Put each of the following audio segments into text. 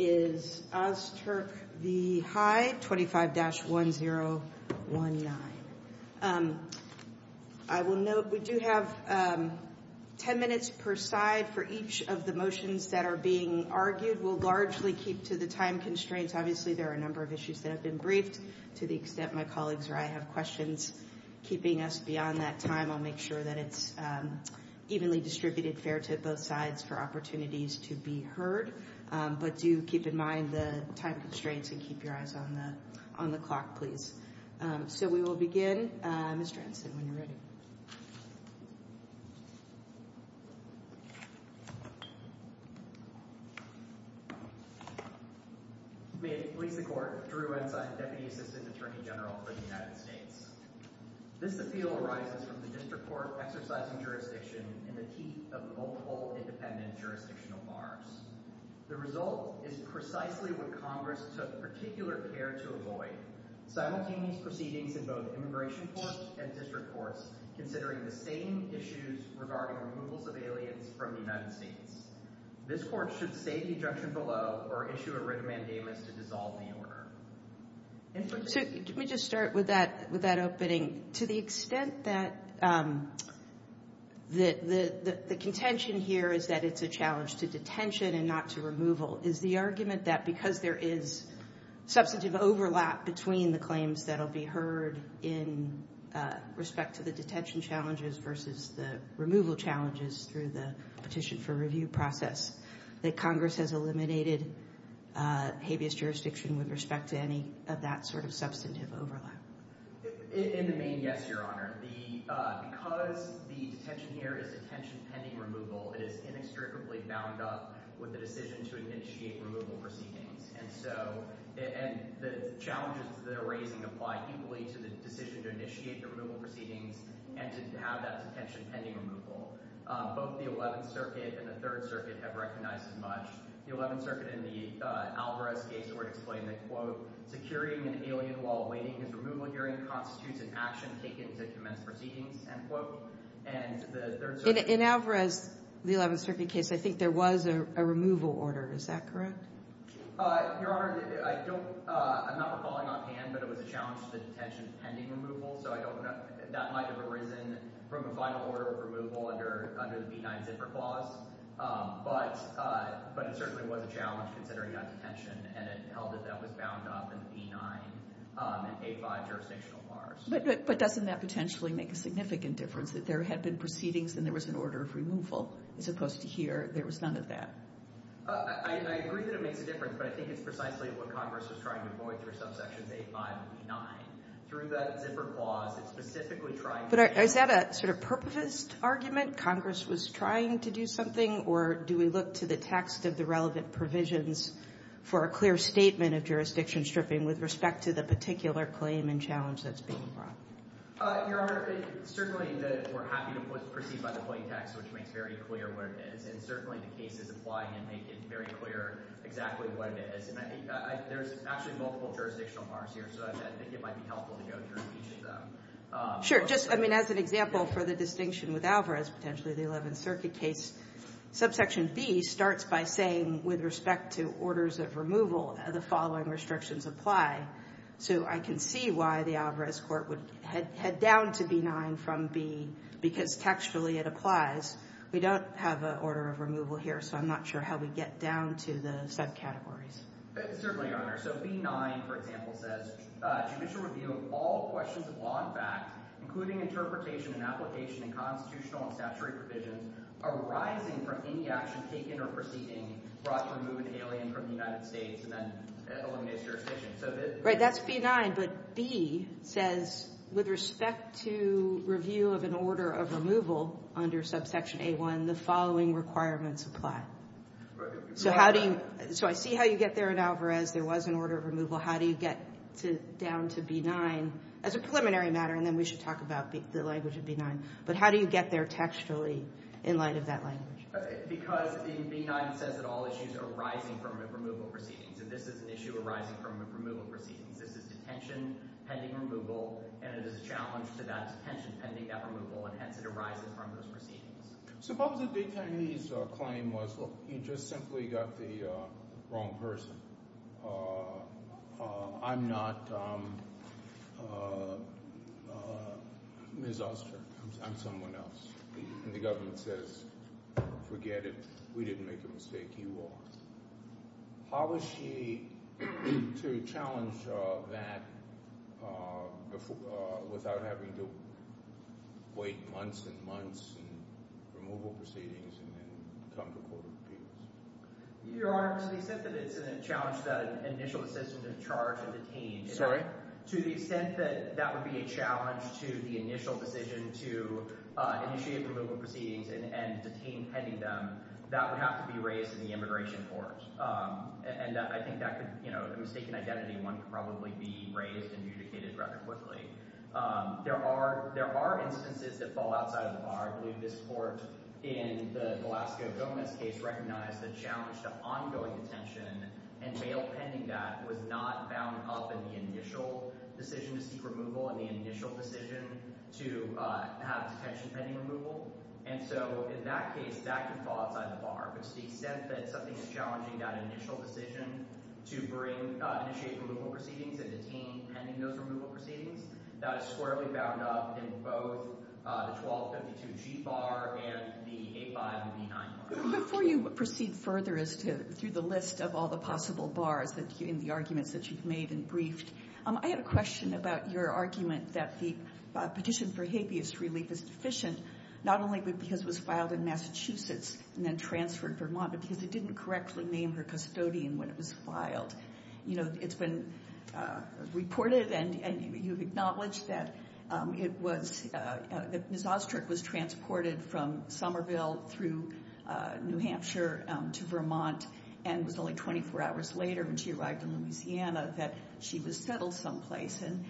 25-1019. I will note we do have 10 minutes per side for each of the motions that are being argued. We'll largely keep to the time constraints. Obviously, there are a number of issues that have been briefed. To the extent my colleagues or I have questions keeping us beyond that time, I'll make sure that it's evenly distributed fair to both sides for opportunities to be heard. But do keep in mind the time constraints and keep your eyes on the clock, please. So we will begin. Mr. Anson, when you're ready. May it please the Court, Drew Ensign, Deputy Assistant Attorney General for the United States. This appeal arises from the District Court exercising jurisdiction in the teeth of multiple independent jurisdictional bars. The result is precisely what Congress took particular care to avoid. Simultaneous proceedings in both Immigration Courts and District Courts considering the same issues regarding removals of aliens from the United States. This Court should say the injunction below or issue a writ of mandamus to dissolve the order. Let me just start with that opening. To the extent that the contention here is that it's a challenge to detention and not to removal, is the argument that because there is substantive overlap between the claims that will be heard in respect to the detention challenges versus the removal challenges through the petition for review process, that Congress has eliminated habeas jurisdiction with respect to any of that sort of substantive overlap? In the main, yes, Your Honor. Because the detention here is detention pending removal, it is inextricably bound up with the decision to initiate removal proceedings. And so the challenges that they're raising apply equally to the decision to initiate the removal proceedings and to have that detention pending removal. Both the 11th Circuit and the 3rd Circuit have not recognized as much. The 11th Circuit in the Alvarez case would explain that, quote, securing an alien while awaiting his removal hearing constitutes an action taken to commence proceedings, end quote. And the 3rd Circuit... In Alvarez, the 11th Circuit case, I think there was a removal order. Is that correct? Your Honor, I'm not recalling offhand, but it was a challenge to the detention pending removal. So that might have arisen from a final order of removal under the B-9 Zipper Clause. But it certainly was a challenge considering that detention, and it held that that was bound up in the B-9 and A-5 jurisdictional bars. But doesn't that potentially make a significant difference, that there had been proceedings and there was an order of removal, as opposed to here, there was none of that? I agree that it makes a difference, but I think it's precisely what Congress was trying to avoid for subsections A-5 and B-9. Through the Zipper Clause, it's specifically trying to... But is that a sort of purposive argument? Congress was trying to do something, or do we look to the text of the relevant provisions for a clear statement of jurisdiction stripping with respect to the particular claim and challenge that's being brought? Your Honor, certainly we're happy to proceed by the plain text, which makes very clear what it is. And certainly the cases applying it make it very clear exactly what it is. And I think there's actually multiple jurisdictional bars here, so I think it might be helpful to go through each of them. Sure. Just as an example for the distinction with Alvarez, potentially the 11th Circuit case, subsection B starts by saying, with respect to orders of removal, the following restrictions apply. So I can see why the Alvarez Court would head down to B-9 from B, because textually it applies. We don't have an order of removal here, so I'm not sure how we get down to the subcategories. Certainly, Your Honor. So B-9, for example, says judicial review of all questions of law and fact, including interpretation and application and constitutional and statutory provisions, arising from any action taken or proceeding brought to remove an alien from the United States, and that eliminates jurisdiction. Right, that's B-9. But B says, with respect to review of an order of removal under subsection A-1, the following requirements apply. So I see how you get there in Alvarez, there was an order of removal. How do you get down to B-9 as a preliminary matter, and then we should talk about the language of B-9. But how do you get there textually in light of that language? Because B-9 says that all issues arising from removal proceedings, and this is an issue arising from removal proceedings. This is detention pending removal, and it is a challenge to detention pending that removal, and hence it arises from those proceedings. Suppose the detainee's claim was, well, he just simply got the wrong person. I'm not Ms. Oster, I'm someone else. And the government says, forget it, we didn't make a mistake, you lost. How was she to challenge that without having to wait months and months in removal proceedings and then come to court of appeals? Your Honor, to the extent that it's a challenge that an initial assistant is charged and Sorry? To the extent that that would be a challenge to the initial decision to initiate removal proceedings and detain pending them, that would have to be raised in the immigration court. And I think that could, you know, the mistaken identity one could probably be raised and adjudicated rather quickly. There are instances that fall outside of the bar. I believe this court in the Velasco Gomez case recognized the challenge to ongoing detention and bail pending that was not bound up in the initial decision to seek removal and the decision to have detention pending removal. And so in that case, that could fall outside the bar. But to the extent that something is challenging that initial decision to bring initiate removal proceedings and detain pending those removal proceedings, that is squarely bound up in both the 1252G bar and the 8559. Before you proceed further through the list of all the possible bars in the arguments that you've made and briefed, I had a question about your argument that the petition for habeas relief is deficient, not only because it was filed in Massachusetts and then transferred Vermont, but because it didn't correctly name her custodian when it was filed. You know, it's been reported and you've acknowledged that it was, that Ms. Ostrick was transported from Somerville through New Hampshire to Vermont and was only 24 hours later when she arrived in Louisiana that she was settled someplace. And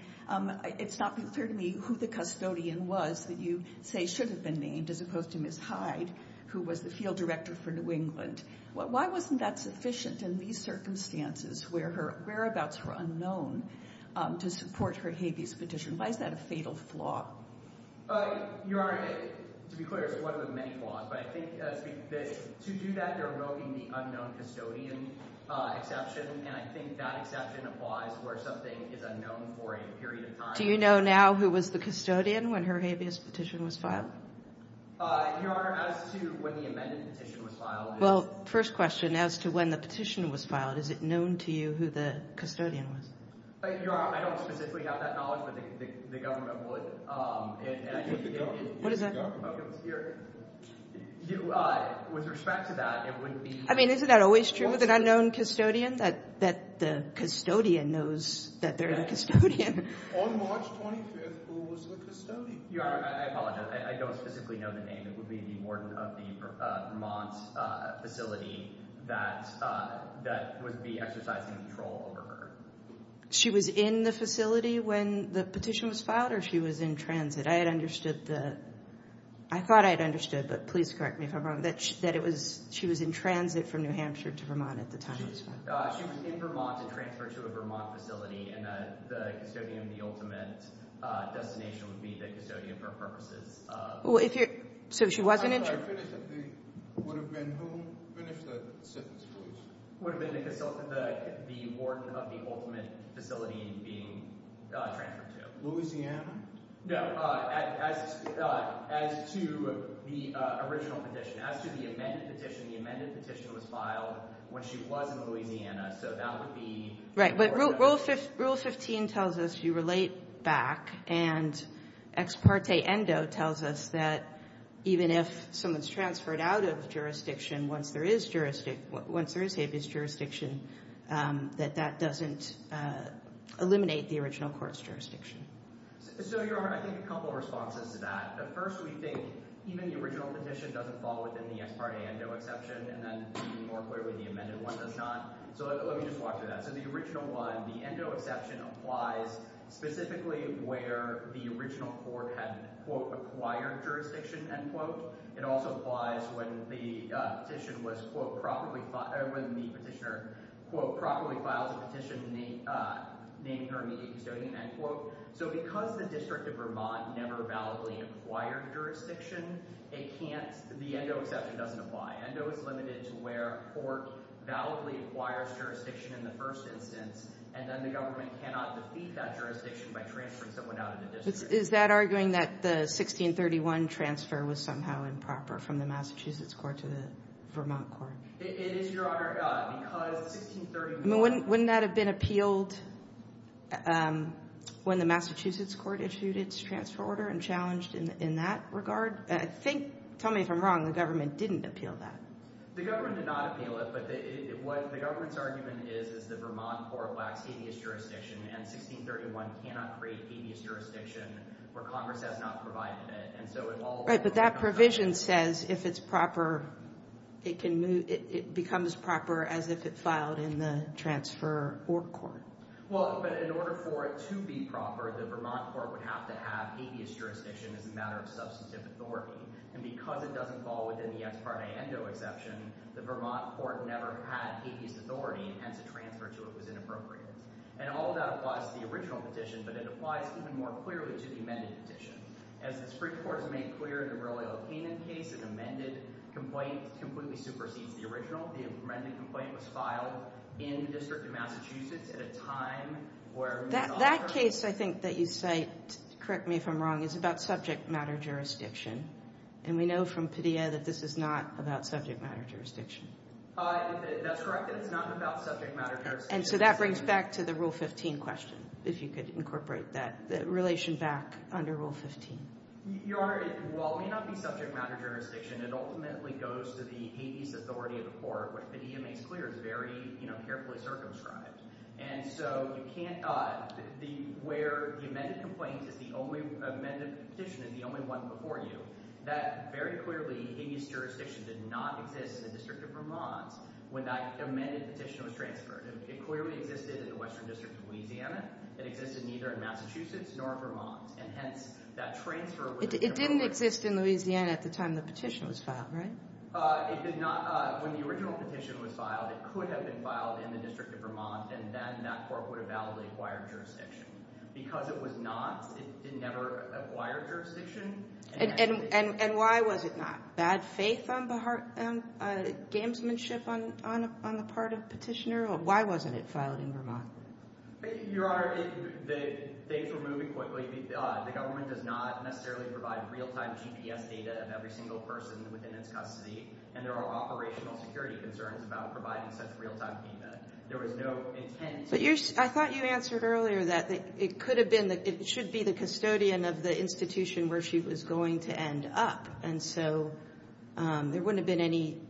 it's not been clear to me who the custodian was that you say should have been named as opposed to Ms. Hyde, who was the field director for New England. Why wasn't that sufficient in these circumstances where her whereabouts were unknown to support her habeas petition? Why is that a fatal flaw? Your Honor, to be clear, it's one of the many flaws. But I think to do that, you're right. I think that exception applies where something is unknown for a period of time. Do you know now who was the custodian when her habeas petition was filed? Your Honor, as to when the amended petition was filed... Well, first question, as to when the petition was filed, is it known to you who the custodian was? I don't specifically have that knowledge, but the government would. What is that? With respect to that, it would be... Isn't that always true with an unknown custodian, that the custodian knows that they're the custodian? On March 25th, who was the custodian? Your Honor, I apologize. I don't specifically know the name. It would be the warden of the Vermont facility that would be exercising control over her. She was in the facility when the petition was filed, or she was in transit? I had understood that. I thought I had understood, but please correct me if I'm wrong, that she was in transit from New Hampshire to Vermont at the time. She was in Vermont to transfer to a Vermont facility, and the custodian of the ultimate destination would be the custodian for purposes of... Well, if you're... So she wasn't in... If I finish at the... Would have been who? Finish that sentence, please. Would have been the warden of the ultimate facility being transferred to. Louisiana? No, as to the original petition. As to the amended petition, the amended petition was filed when she was in Louisiana, so that would be... Right, but Rule 15 tells us you relate back, and ex parte endo tells us that even if someone's transferred out of jurisdiction, once there is jurisdiction, that that doesn't eliminate the original court's jurisdiction. So, your Honor, I think a couple of responses to that. At first, we think even the original petition doesn't fall within the ex parte endo exception, and then more clearly, the amended one does not. So let me just walk through that. So the original one, the endo exception applies specifically where the original court had acquired jurisdiction, end quote. It also applies when the petition was, quote, properly filed... Or when the petitioner, quote, properly files a petition naming her immediate custodian, end quote. So because the District of Vermont never validly acquired jurisdiction, it can't... The endo exception doesn't apply. Endo is limited to where court validly acquires jurisdiction in the first instance, and then the government cannot defeat that jurisdiction by transferring someone out of the district. Is that arguing that the 1631 transfer was somehow improper from the Massachusetts court to the Vermont court? It is, Your Honor, because 1631... Wouldn't that have been appealed when the Massachusetts court issued its transfer order and challenged in that regard? I think... Tell me if I'm wrong. The government didn't appeal that. The government did not appeal it, but what the government's argument is is the Vermont court lacks habeas jurisdiction, and 1631 cannot create habeas jurisdiction where Congress has not provided it. And so if all... Right, but that provision says if it's proper, it can move... It becomes proper as if it filed in the transfer or court. Well, but in order for it to be proper, the Vermont court would have to have habeas jurisdiction as a matter of substantive authority. And because it doesn't fall within the ex parte endo exception, the Vermont court never had habeas authority, and hence a transfer to it was inappropriate. And all of that applies to the original petition, but it applies even more clearly to the amended petition. As the Supreme Court has made clear in the Royal O'Kanan case, an amended complaint completely supersedes the original. The amended complaint was filed in the District of Massachusetts at a time where... That case I think that you cite, correct me if I'm wrong, is about subject matter jurisdiction, and we know from Padilla that this is not about subject matter jurisdiction. That's correct. It's not about subject matter jurisdiction. And so that brings back to the Rule 15 question, if you could incorporate that relation back under Rule 15. Your Honor, while it may not be subject matter jurisdiction, it ultimately goes to the habeas authority of the court, which Padilla makes clear is very carefully circumscribed. And so you can't... Where the amended petition is the only one before you, that very clearly habeas jurisdiction did not exist in the District of Vermont when that amended petition was transferred. It clearly existed in the Western District of Louisiana. It existed neither in Massachusetts nor Vermont. And hence, that transfer... It didn't exist in Louisiana at the time the petition was filed, right? It did not... When the original petition was filed, it could have been filed in the District of Vermont, and then that court would have validly acquired jurisdiction. Because it was not, it never acquired jurisdiction. And why was it not? Bad faith on gamesmanship on the part of petitioner? Why wasn't it filed in Vermont? Your Honor, things were moving quickly. The government does not necessarily provide real-time GPS data of every single person within its custody, and there are operational security concerns about providing such real-time payment. There was no intent... But I thought you answered earlier that it could have been, it should be the custodian of the institution where she was going to end up. And so there wouldn't have been any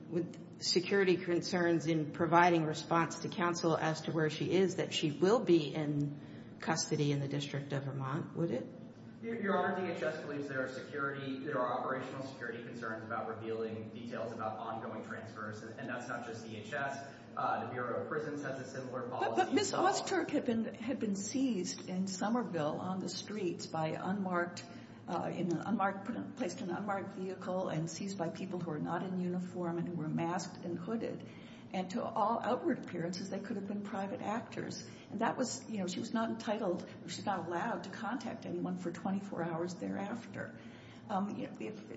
security concerns in providing response to counsel as to where she is, that she will be in custody in the District of Vermont, would it? Your Honor, DHS believes there are security, there are operational security concerns about revealing details about ongoing transfers. And that's not just DHS. The Bureau of Prisons has a similar policy. But Ms. Osterk had been seized in Somerville on the streets by unmarked, placed in an unmarked vehicle and seized by people who are not in uniform and who were masked and hooded. And to all outward appearances, they could have been private actors. And that was, you know, she was not entitled, she was not allowed to contact anyone for 24 hours thereafter.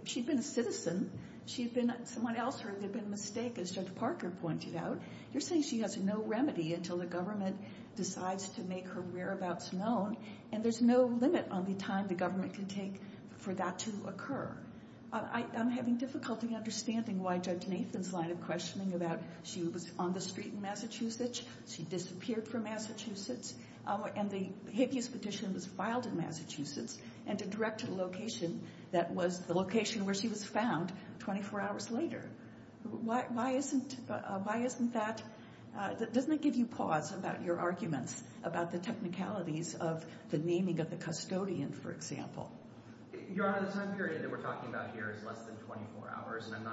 She'd been a citizen. She'd been someone else or there'd been a mistake, as Judge Parker pointed out. You're saying she has no remedy until the government decides to make her whereabouts known, and there's no limit on the time the government can take for that to occur. I'm having difficulty understanding why Judge Nathan's line of questioning about she was on the street in Massachusetts, she disappeared from Massachusetts, and the habeas petition was filed in Massachusetts, and to direct to the location that was the location where she was found 24 hours later. Why isn't that, doesn't it give you pause about your arguments about the technicalities of the naming of the custodian, for example? Your Honor, the time period that we're talking about here is less than 24 hours, and I'm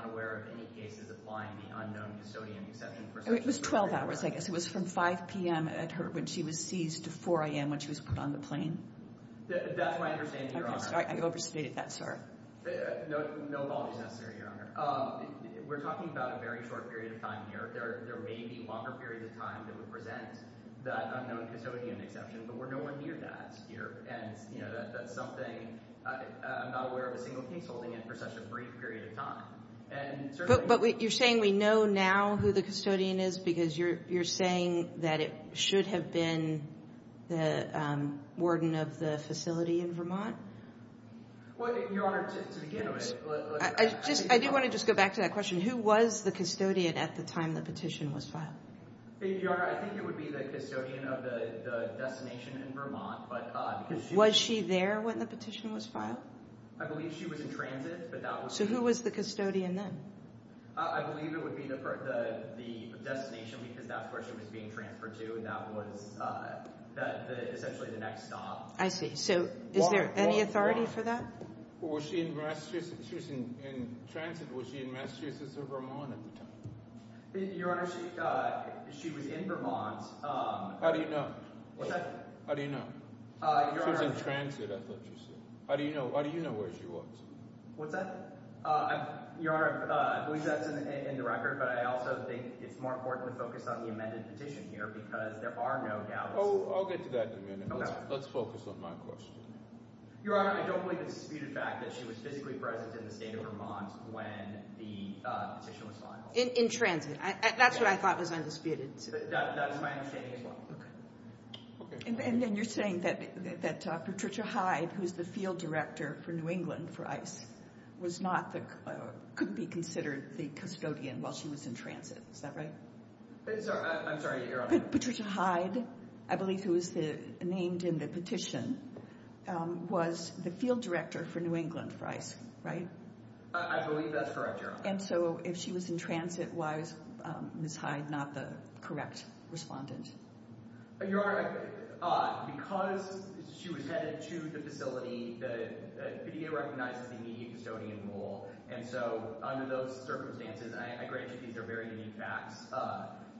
It was 12 hours, I guess. It was from 5 p.m. at her when she was seized to 4 a.m. when she was put on the plane. That's my understanding, Your Honor. Okay, sorry. I overstated that, sorry. No apologies necessary, Your Honor. We're talking about a very short period of time here. There may be longer periods of time that would present that unknown custodian exception, but we're nowhere near that here. And, you know, that's something I'm not aware of a single case holding it for such a brief period of time. But you're saying we know now who the custodian is because you're saying that it should have been the warden of the facility in Vermont? Well, Your Honor, to begin with... I do want to just go back to that question. Who was the custodian at the time the petition was filed? Your Honor, I think it would be the custodian of the destination in Vermont, but... Was she there when the petition was filed? I believe she was in transit, but that was... So who was the custodian then? I believe it would be the destination because that's where she was being transferred to, and that was essentially the next stop. I see. So is there any authority for that? Was she in transit? Was she in Massachusetts or Vermont at the time? Your Honor, she was in Vermont. How do you know? How do you know? She was in transit, I thought you said. How do you know where she was? What's that? Your Honor, I believe that's in the record, but I also think it's more important to focus on the amended petition here because there are no doubts. Oh, I'll get to that in a minute. Let's focus on my question. Your Honor, I don't believe it's a disputed fact that she was physically present in the state of Vermont when the petition was filed. In transit. That's what I thought was undisputed. That's my understanding as well. And then you're saying that Patricia Hyde, who's the field director for New England for ICE, couldn't be considered the custodian while she was in transit. Is that right? I'm sorry, Your Honor. Patricia Hyde, I believe who was named in the petition, was the field director for New England for ICE, right? I believe that's correct, Your Honor. And so if she was in transit, why is Ms. Hyde not the correct respondent? Your Honor, because she was headed to the facility, the PDA recognizes the immediate custodian role. And so under those circumstances, and I grant you these are very unique facts,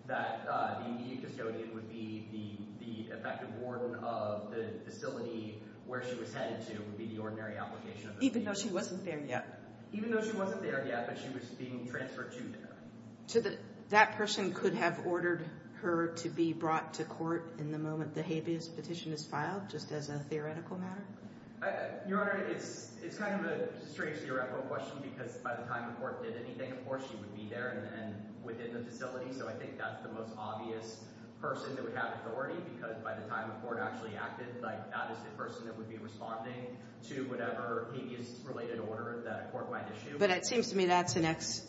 that the immediate custodian would be the effective warden of the facility where she was headed to would be the ordinary application. Even though she wasn't there yet. Even though she wasn't there yet, but she was being transferred to there. That person could have ordered her to be brought to court in the moment the habeas petition is filed, just as a theoretical matter? Your Honor, it's kind of a strange theoretical question because by the time the court did anything, of course, she would be there and within the facility. So I think that's the most obvious person that would have authority because by the time the court actually acted, that is the person that would be responding to whatever habeas related order that a court might issue. But it seems to me that's an ex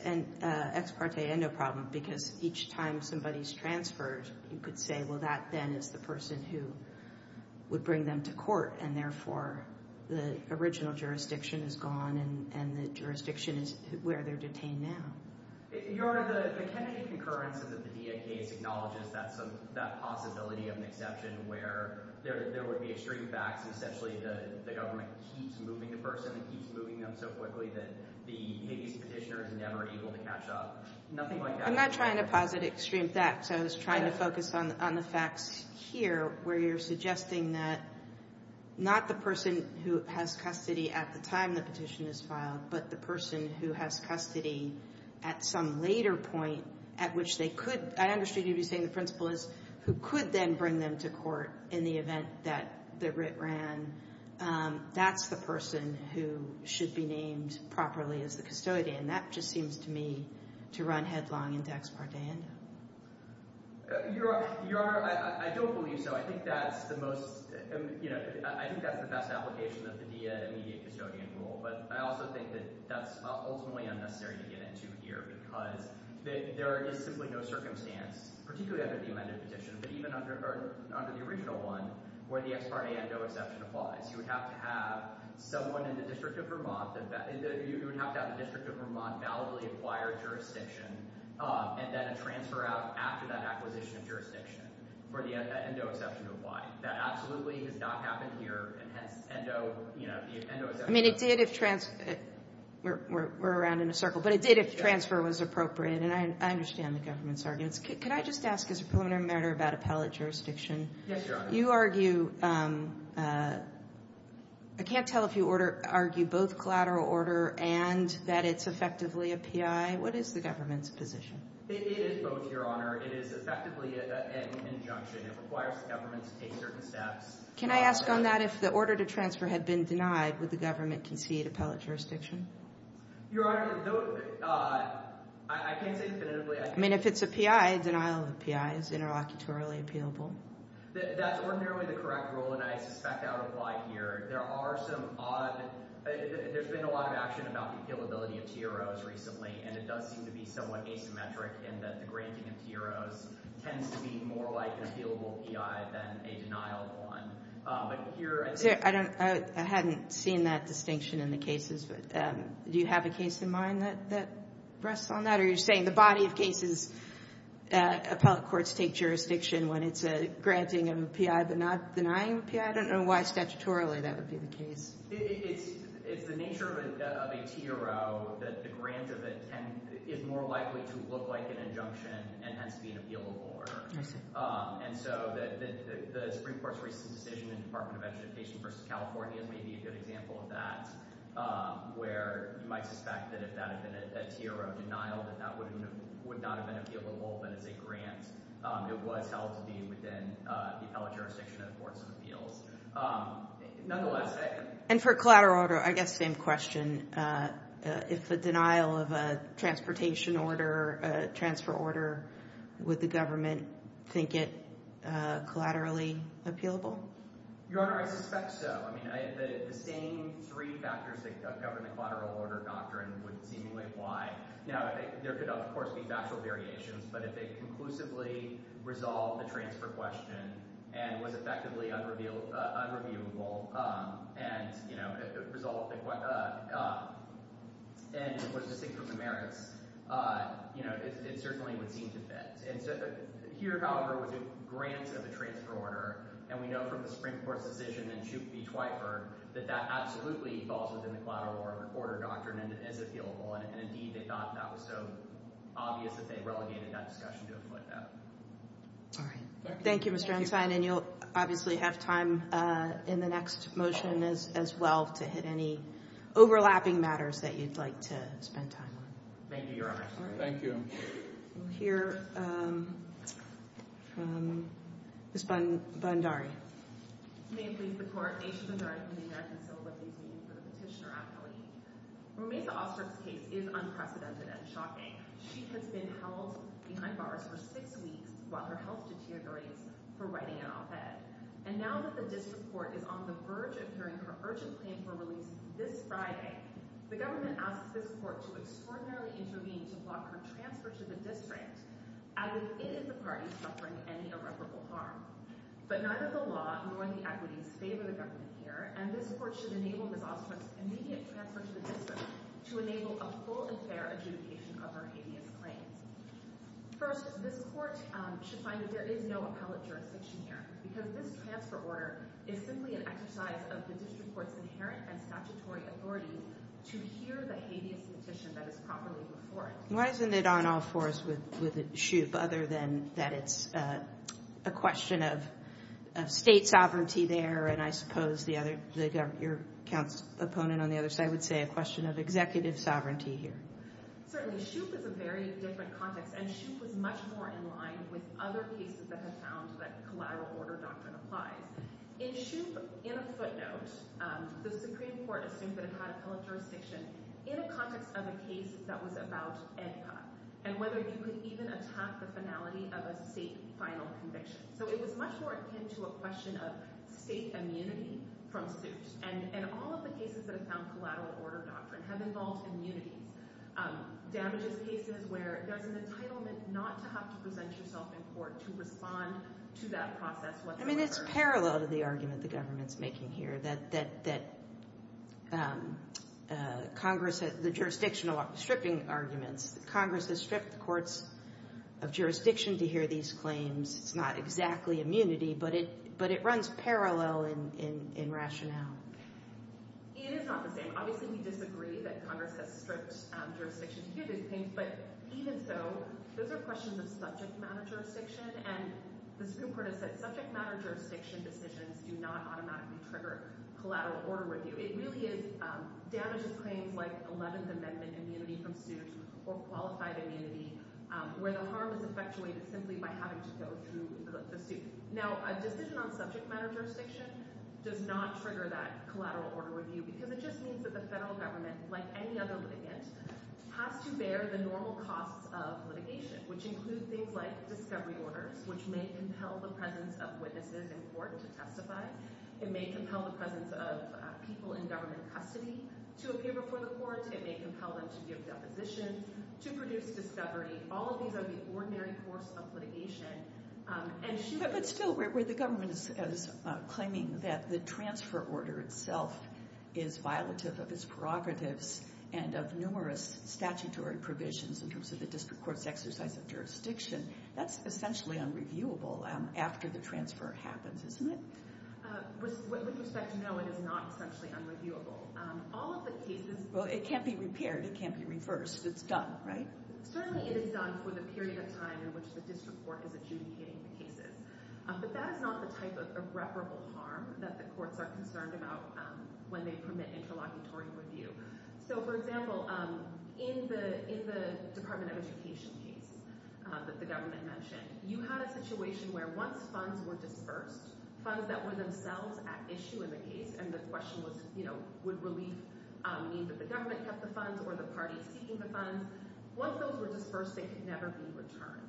parte endo problem because each time somebody's transferred, you could say, well, that then is the person who would bring them to court and therefore the original jurisdiction is gone and the jurisdiction is where they're detained now. Your Honor, the Kennedy concurrence of the PDA case acknowledges that possibility of an exception where there would be extreme facts and essentially the government keeps moving the person and keeps moving them so quickly that the habeas petitioner is never able to catch up. Nothing like that. I'm not trying to posit extreme facts. I was trying to focus on the facts here where you're suggesting that not the person who has custody at the time the petition is filed, but the person who has custody at some later point at which they could. I understand you're saying the principle is who could then bring them to court in the event that the writ ran. That's the person who should be named properly as the custodian. That just seems to me to run headlong into ex parte endo. Your Honor, I don't believe so. I think that's the best application of the PDA immediate custodian rule. But I also think that that's ultimately unnecessary to get into here because there is simply no circumstance, particularly under the amended petition, but even under the original one where the ex parte endo exception applies. You would have to have someone in the District of Vermont, you would have to have the District of Vermont validly acquire jurisdiction and then a transfer out after that acquisition of jurisdiction for the endo exception to apply. That absolutely has not happened here and hence endo, you know, the endo exception. I mean it did if, we're around in a circle, but it did if the transfer was appropriate and I understand the government's arguments. Could I just ask as a preliminary matter about appellate jurisdiction? Yes, Your Honor. You argue, I can't tell if you argue both collateral order and that it's effectively a PI. What is the government's position? It is both, Your Honor. It is effectively an injunction. It requires the government to take certain steps. Can I ask on that if the order to transfer had been denied, would the government concede appellate jurisdiction? Your Honor, I can't say definitively. I mean if it's a PI, denial of a PI is interlocutorily appealable. That's ordinarily the correct rule and I suspect that would apply here. There are some odd, there's been a lot of action about the appealability of TROs recently and it does seem to be somewhat asymmetric in that the granting of TROs tends to be more like an appealable PI than a denial one. But here, I don't, I hadn't seen that distinction in the cases, but do you have a case in mind that rests on that? You're saying the body of cases appellate courts take jurisdiction when it's a granting of a PI but not denying a PI? I don't know why statutorily that would be the case. It's the nature of a TRO that the grant of it is more likely to look like an injunction and hence be an appealable order. And so the Supreme Court's recent decision in the Department of Education versus California is maybe a good example of that where you might suspect that if that had been a TRO denial that that would not have been appealable but as a grant. It was held to be within the appellate jurisdiction of the courts of appeals. Nonetheless. And for collateral order, I guess same question. If the denial of a transportation order, a transfer order, would the government think it collaterally appealable? Your Honor, I suspect so. I mean, the same three factors that govern the collateral order doctrine would seem like why. Now, there could, of course, be factual variations, but if it conclusively resolved the transfer question and was effectively unreviewable and was distinct from the merits, it certainly would seem to fit. Here, however, with a grant of a transfer order, and we know from the Supreme Court's decision in Chute v. Twyford that that absolutely falls within the collateral order doctrine and is appealable. And indeed, they thought that was so obvious that they relegated that discussion to a footnote. All right. Thank you, Mr. Ensign. And you'll obviously have time in the next motion as well to hit any overlapping matters that you'd like to spend time on. Thank you, Your Honor. Thank you. We'll hear from Ms. Bondari. May it please the Court. Aisha Bondari from the American Civil Liberties Union for the petitioner appellate. Romesa Ostrom's case is unprecedented and shocking. She has been held behind bars for six weeks while her health deteriorates for writing an op-ed. And now that the district court is on the verge of hearing her urgent claim for release this Friday, the government asks this court to extraordinarily intervene to block her transfer to the district as if it is the party suffering any irreparable harm. But neither the law nor the equities favor the government here, and this court should enable Ms. Ostrom's immediate transfer to the district to enable a full and fair adjudication of her hideous claims. First, this court should find that there is no appellate jurisdiction here, because this transfer order is simply an exercise of the district court's inherent and statutory authority to hear the hideous petition that is properly before it. Why isn't it on all fours with Shoup other than that it's a question of state sovereignty there, and I suppose your opponent on the other side would say a question of executive sovereignty here. Certainly. Shoup is a very different context, and Shoup was much more in line with other cases that have found that collateral order doctrine applies. In Shoup, in a footnote, the Supreme Court assumed that it had appellate jurisdiction in a context of a case that was about EDCA, and whether you could even attack the finality of a state final conviction. So it was much more akin to a question of state immunity from Shoup, and all of the cases that have found collateral order doctrine have involved immunities. Damages cases where there's an entitlement not to have to present yourself in court to respond to that process. I mean, it's parallel to the argument the government's making here, that Congress, the jurisdictional stripping arguments, that Congress has stripped the courts of jurisdiction to hear these claims. It's not exactly immunity, but it runs parallel in rationale. It is not the same. Obviously, we disagree that Congress has stripped jurisdiction to hear these claims, but even so, those are questions of subject matter jurisdiction, and the Supreme Court has said subject matter jurisdiction decisions do not automatically trigger collateral order review. It really is damages claims like 11th Amendment immunity from Shoup or qualified immunity where the harm is effectuated simply by having to go through the suit. Now, a decision on subject matter jurisdiction does not trigger that collateral order review because it just means that the federal government, like any other litigant, has to bear the normal costs of litigation, which include things like discovery orders, which may compel the presence of witnesses in court to testify. It may compel the presence of people in government custody to appear before the court. It may compel them to give depositions, to produce discovery. All of these are the ordinary course of litigation, and Shoup— But still, where the government is claiming that the transfer order itself is violative of its prerogatives and of numerous statutory provisions in terms of the district court's exercise of jurisdiction, that's essentially unreviewable after the transfer happens, isn't it? With respect, no, it is not essentially unreviewable. All of the cases— Well, it can't be repaired. It can't be reversed. It's done, right? Certainly it is done for the period of time in which the district court is adjudicating the cases, but that is not the type of irreparable harm that the courts are concerned about when they permit interlocutory review. So, for example, in the Department of Education case that the government mentioned, you had a situation where once funds were dispersed, funds that were themselves at issue in the case, the government kept the funds or the party seeking the funds. Once those were dispersed, they could never be returned.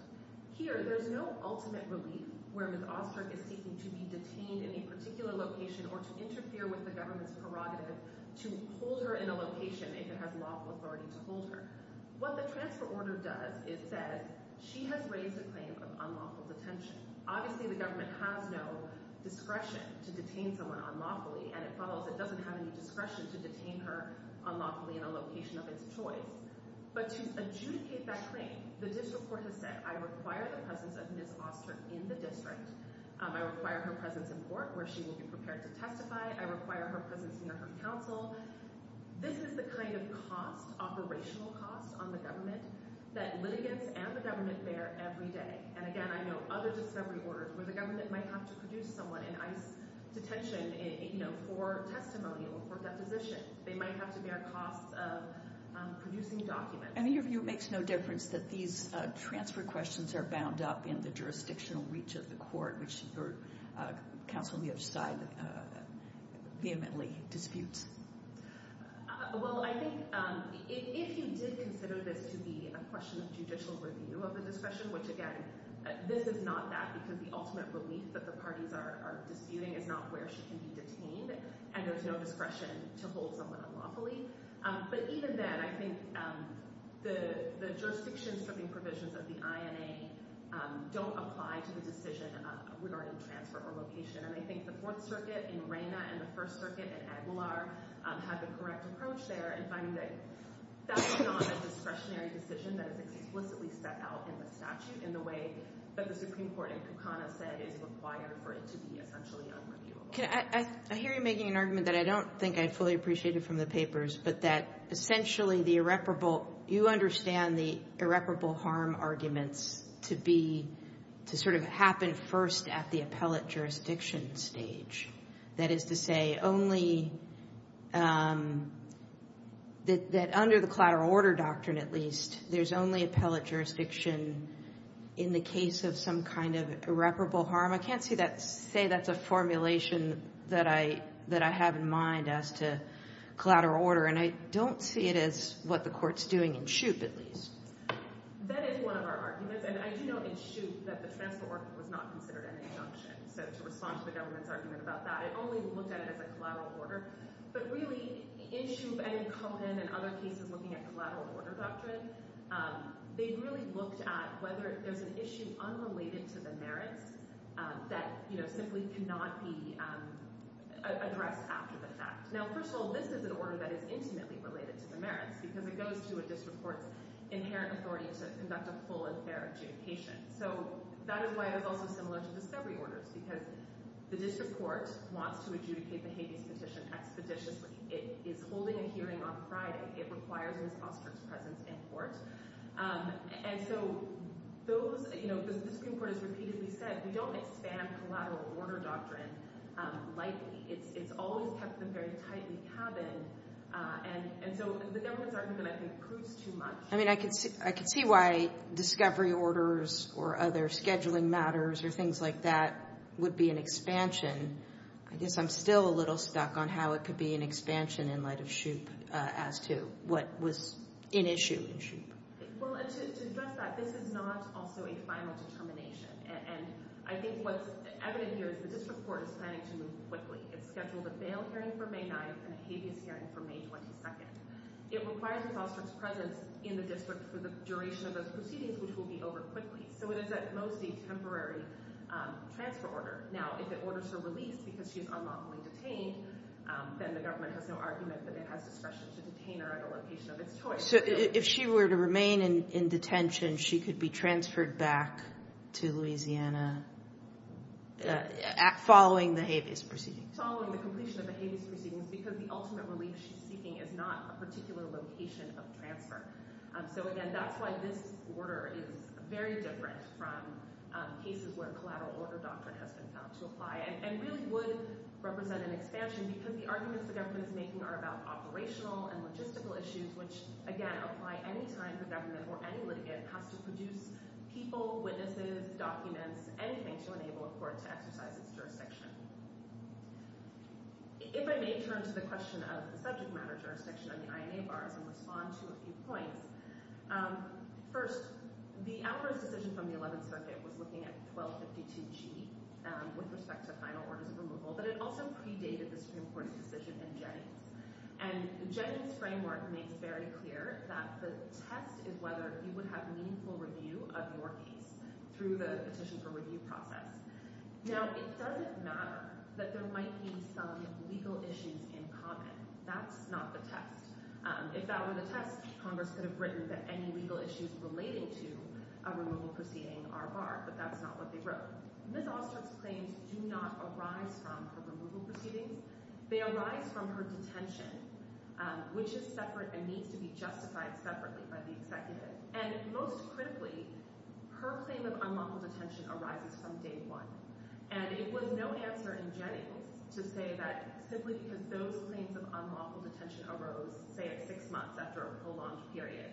Here, there's no ultimate relief where Ms. Ostrick is seeking to be detained in a particular location or to interfere with the government's prerogative to hold her in a location if it has lawful authority to hold her. What the transfer order does is says she has raised a claim of unlawful detention. Obviously, the government has no discretion to detain someone unlawfully, and it follows that the government doesn't have any discretion to detain her unlawfully in a location of its choice. But to adjudicate that claim, the district court has said, I require the presence of Ms. Ostrick in the district. I require her presence in court where she will be prepared to testify. I require her presence in her counsel. This is the kind of cost, operational cost, on the government that litigants and the government bear every day. And again, I know other discovery orders where the government might have to produce someone in ICE detention for testimony or for deposition. They might have to bear costs of producing documents. And in your view, it makes no difference that these transfer questions are bound up in the jurisdictional reach of the court, which your counsel on the other side vehemently disputes? Well, I think if you did consider this to be a question of judicial review of the discretion, which again, this is not that, because the ultimate relief that the parties are disputing is not where she can be detained, and there's no discretion to hold someone unlawfully. But even then, I think the jurisdiction stripping provisions of the INA don't apply to the decision regarding transfer or location. And I think the Fourth Circuit in Reyna and the First Circuit in Aguilar have the correct approach there in finding that that's not a discretionary decision that is explicitly set out in the statute in the way that the Supreme Court in Kukana said is required for it to be essentially unreviewable. Can I—I hear you making an argument that I don't think I fully appreciated from the papers, but that essentially the irreparable—you understand the irreparable harm arguments to be—to sort of happen first at the appellate jurisdiction stage. That is to say, only—that under the collateral order doctrine, at least, there's only appellate jurisdiction in the case of some kind of irreparable harm. I can't see that—say that's a formulation that I have in mind as to collateral order, and I don't see it as what the Court's doing in Shoup, at least. That is one of our arguments, and I do know in Shoup that the transfer order was not considered an injunction. So to respond to the government's argument about that, it only looked at it as a collateral order. But really, in Shoup and in Cohen and other cases looking at collateral order doctrine, they really looked at whether there's an issue unrelated to the merits that, you know, simply cannot be addressed after the fact. Now, first of all, this is an order that is intimately related to the merits, because it goes to a district court's inherent authority to conduct a full and fair adjudication. So that is why it was also similar to discovery orders, because the district court wants to adjudicate the Habeas Petition expeditiously. It is holding a hearing on Friday. It requires a response to its presence in court. And so those, you know, the district court has repeatedly said, we don't expand collateral order doctrine lightly. It's always kept them very tight in the cabin. And so the government's argument, I think, proves too much. I mean, I could see why discovery orders or other scheduling matters or things like that would be an expansion. I guess I'm still a little stuck on how it could be an expansion in light of Shoup as to what was in issue in Shoup. Well, and to address that, this is not also a final determination. And I think what's evident here is the district court is planning to move quickly. It's scheduled a bail hearing for May 9th and a Habeas hearing for May 22nd. It requires a response to its presence in the district for the duration of those proceedings, which will be over quickly. So it is at most a temporary transfer order. Now, if it orders her release because she is unlawfully detained, then the government has no argument that it has discretion to detain her at a location of its choice. So if she were to remain in detention, she could be transferred back to Louisiana following the Habeas proceedings? Following the completion of the Habeas proceedings because the ultimate relief she's seeking is not a particular location of transfer. So again, that's why this order is very different from cases where collateral order doctrine has been found to apply and really would represent an expansion because the arguments the government is making are about operational and logistical issues, which, again, apply any time the government or any litigant has to produce people, witnesses, documents, anything to enable a court to exercise its jurisdiction. If I may turn to the question of the subject matter jurisdiction on the INA bars and respond to a few points. First, the Alvarez decision from the 11th Circuit was looking at 1252G with respect to final orders of removal, but it also predated the Supreme Court's decision in Jennings. And Jennings' framework makes very clear that the test is whether you would have meaningful review of your case through the petition for review process. Now, it doesn't matter that there might be some legal issues in common. That's not the test. If that were the test, Congress could have written that any legal issues relating to a removal proceeding are barred, but that's not what they wrote. Ms. Oster's claims do not arise from her removal proceedings. They arise from her detention, which is separate and needs to be justified separately by the And most critically, her claim of unlawful detention arises from day one. And it was no answer in Jennings to say that simply because those claims of unlawful detention arose, say, at six months after a prolonged period,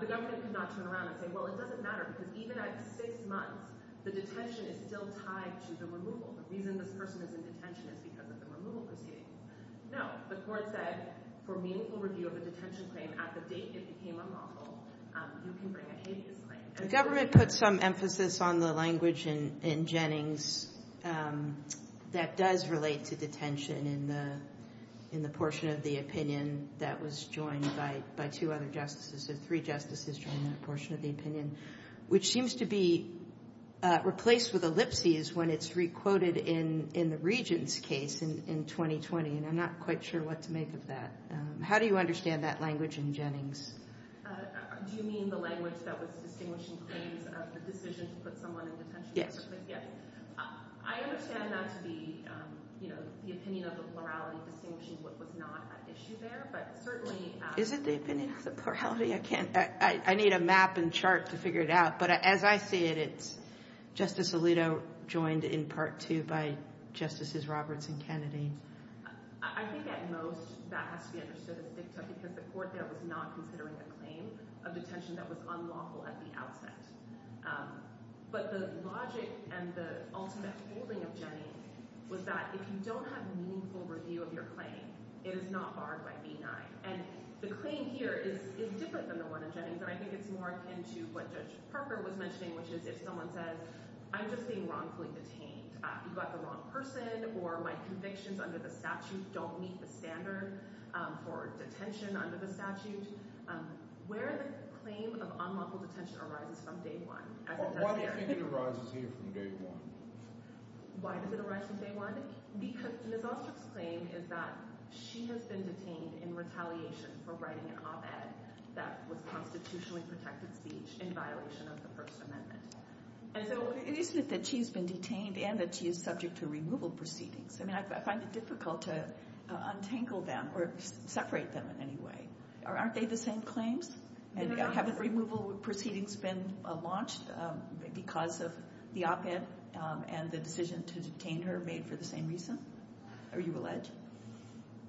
the government could not turn around and say, well, it doesn't matter because even at six months, the detention is still tied to the removal. The reason this person is in detention is because of the removal proceeding. No, the court said, for meaningful review of a detention claim at the date it became unlawful, you can bring a habeas claim. The government put some emphasis on the language in Jennings that does relate to detention in the portion of the opinion that was joined by two other justices. Three justices joined that portion of the opinion, which seems to be replaced with ellipses when it's re-quoted in the Regents' case in 2020, and I'm not quite sure what to make of that. How do you understand that language in Jennings? Do you mean the language that was distinguished in claims of the decision to put someone in detention? I understand that to be the opinion of the plurality distinguishing what was not at issue there, but certainly— Is it the opinion of the plurality? I can't—I need a map and chart to figure it out, but as I see it, it's Justice Alito joined in part two by Justices Roberts and Kennedy. I think at most, that has to be understood as dicta because the court there was not considering a claim of detention that was unlawful at the outset. But the logic and the ultimate holding of Jennings was that if you don't have meaningful review of your claim, it is not barred by B-9. And the claim here is different than the one in Jennings, and I think it's more akin to what Judge Parker was mentioning, which is if someone says, I'm just being wrongfully detained. You got the wrong person, or my convictions under the statute don't meet the standard for detention under the statute. Where the claim of unlawful detention arises from day one, as it does here— Why do you think it arises here from day one? Why does it arise from day one? Because Ms. Ostrick's claim is that she has been detained in retaliation for writing an op-ed that was constitutionally protected speech in violation of the First Amendment. And so it isn't that she's been detained and that she is subject to removal proceedings. I mean, I find it difficult to untangle them or separate them in any way. Aren't they the same claims? And haven't removal proceedings been launched because of the op-ed and the decision to detain her made for the same reason? Are you alleged?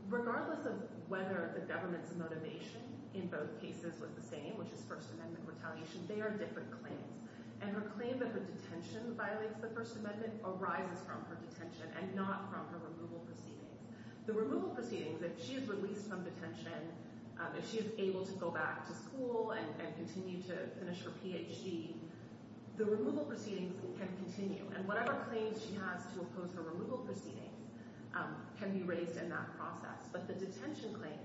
Regardless of whether the government's motivation in both cases was the same, which is First Amendment retaliation, they are different claims. And her claim that her detention violates the First Amendment arises from her detention and not from her removal proceedings. The removal proceedings, if she is released from detention, if she is able to go back to school and continue to finish her PhD, the removal proceedings can continue. And whatever claims she has to oppose the removal proceedings can be raised in that process. But the detention claim,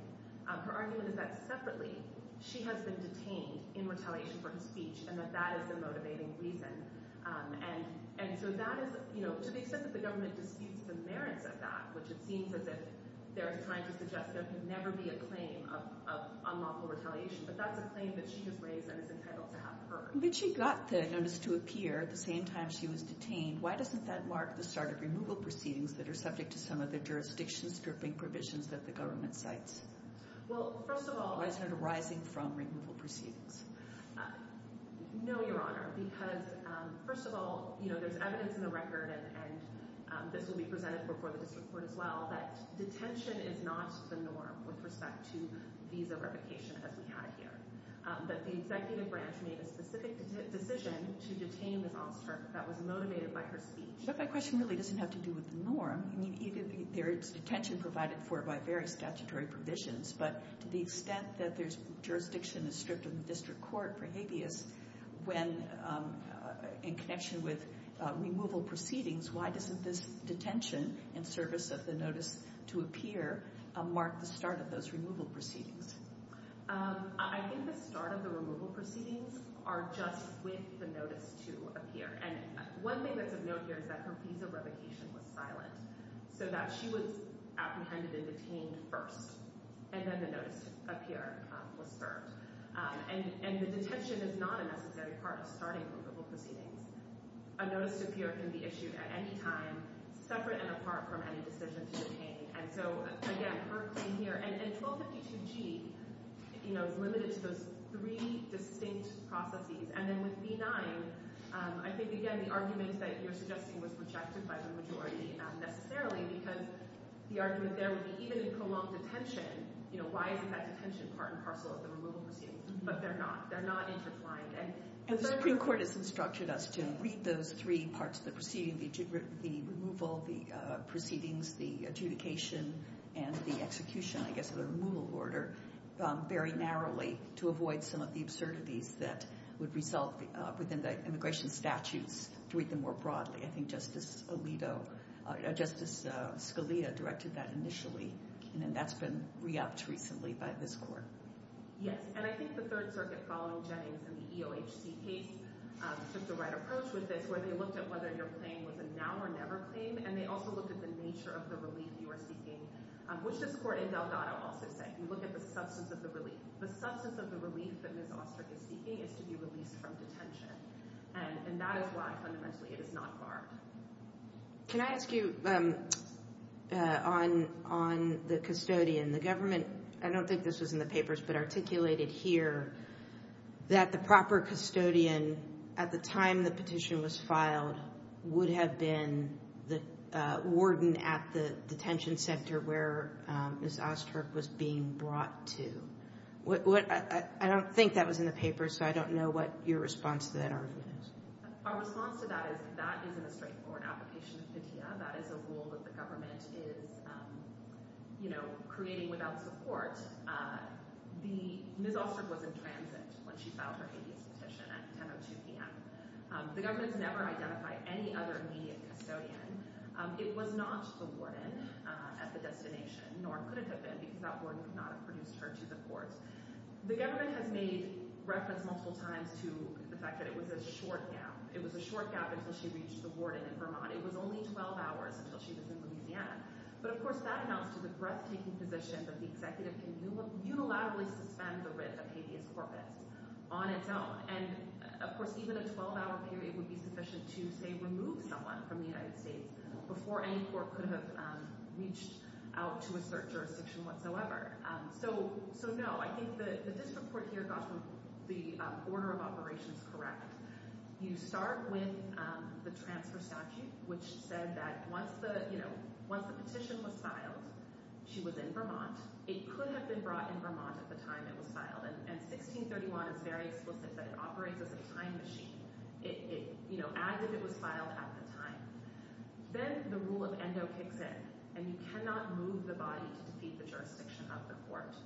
her argument is that separately she has been detained in retaliation for her speech and that that is the motivating reason. And so that is, you know, to the extent that the government disputes the merits of that, which it seems as if they're trying to suggest there can never be a claim of unlawful retaliation, but that's a claim that she has raised and is entitled to have heard. When she got the notice to appear at the same time she was detained, why doesn't that mark the start of removal proceedings that are subject to some of the jurisdiction stripping provisions that the government cites? Well, first of all... Why is it arising from removal proceedings? No, Your Honor, because first of all, you know, there's evidence in the record and this will be presented before the district court as well, that detention is not the norm with respect to visa replication as we had here. That the executive branch made a specific decision to detain this officer that was motivated by her speech. But my question really doesn't have to do with the norm. I mean, there is detention provided for by various statutory provisions, but to the extent that there's jurisdiction is stripped of the district court for habeas, when in connection with removal proceedings, why doesn't this detention in service of the notice to appear mark the start of those removal proceedings? Um, I think the start of the removal proceedings are just with the notice to appear. And one thing that's of note here is that her visa replication was silent. So that she was apprehended and detained first. And then the notice to appear was served. And the detention is not a necessary part of starting removal proceedings. A notice to appear can be issued at any time, separate and apart from any decision to detain. And so, again, her claim here, and 1252G, you know, is limited to those three distinct processes. And then with B-9, I think, again, the argument that you're suggesting was rejected by the majority, not necessarily, because the argument there would be, even in prolonged detention, you know, why isn't that detention part and parcel of the removal proceedings? But they're not. They're not intertwined. And the Supreme Court has instructed us to read those three parts of the proceeding, the removal, the proceedings, the adjudication, and the execution, I guess, of the removal order very narrowly to avoid some of the absurdities that would result within the immigration statutes, to read them more broadly. I think Justice Alito, Justice Scalia directed that initially. And that's been re-upped recently by this court. Yes. And I think the Third Circuit, following Jennings and the EOHC case, took the right approach with this, where they looked at whether your claim was a now or never claim. And they also looked at the nature of the relief you are seeking, which this court in Delgado also said. You look at the substance of the relief. The substance of the relief that Ms. Ostrick is seeking is to be released from detention. And that is why, fundamentally, it is not barred. Can I ask you on the custodian? The government, I don't think this was in the papers, but articulated here that the proper custodian, at the time the petition was filed, would have been the warden at the detention center where Ms. Ostrick was being brought to. I don't think that was in the papers, so I don't know what your response to that argument is. Our response to that is, that isn't a straightforward application of pitea. That is a rule that the government is creating without support. Ms. Ostrick was in transit when she filed her habeas petition at 10.02 p.m. The government has never identified any other immediate custodian. It was not the warden at the destination, nor could it have been, because that warden could not have produced her to the court. The government has made reference multiple times to the fact that it was a short gap. It was a short gap until she reached the warden in Vermont. It was only 12 hours until she was in Louisiana. Of course, that amounts to the breathtaking position that the executive can unilaterally suspend the writ of habeas corpus on its own. Of course, even a 12-hour period would be sufficient to, say, remove someone from the United States before any court could have reached out to a cert jurisdiction whatsoever. So, no, I think the district court here got the order of operations correct. You start with the transfer statute, which said that once the petition was filed, she was in Vermont. It could have been brought in Vermont at the time it was filed, and 1631 is very explicit that it operates as a time machine, as if it was filed at the time. Then the rule of endo kicks in, and you cannot move the body to defeat the jurisdiction of the court.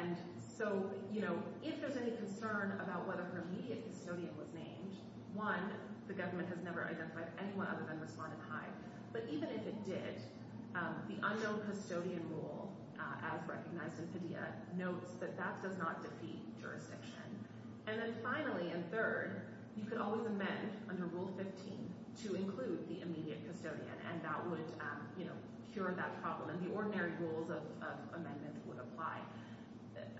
And so, you know, if there's any concern about whether her immediate custodian was named, one, the government has never identified anyone other than Rosalinda Hyde. But even if it did, the unknown custodian rule, as recognized in Padilla, notes that that does not defeat jurisdiction. And then finally, and third, you could always amend under Rule 15 to include the immediate custodian, and that would, you know, cure that problem. The ordinary rules of amendment would apply.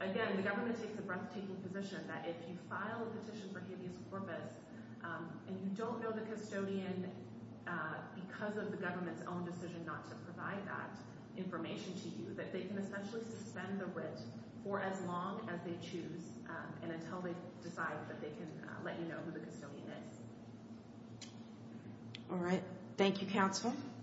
Again, the government takes a breathtaking position that if you file a petition for habeas corpus, and you don't know the custodian because of the government's own decision not to provide that information to you, that they can essentially suspend the writ for as long as they choose, and until they decide that they can let you know who the custodian is. All right. Thank you, counsel.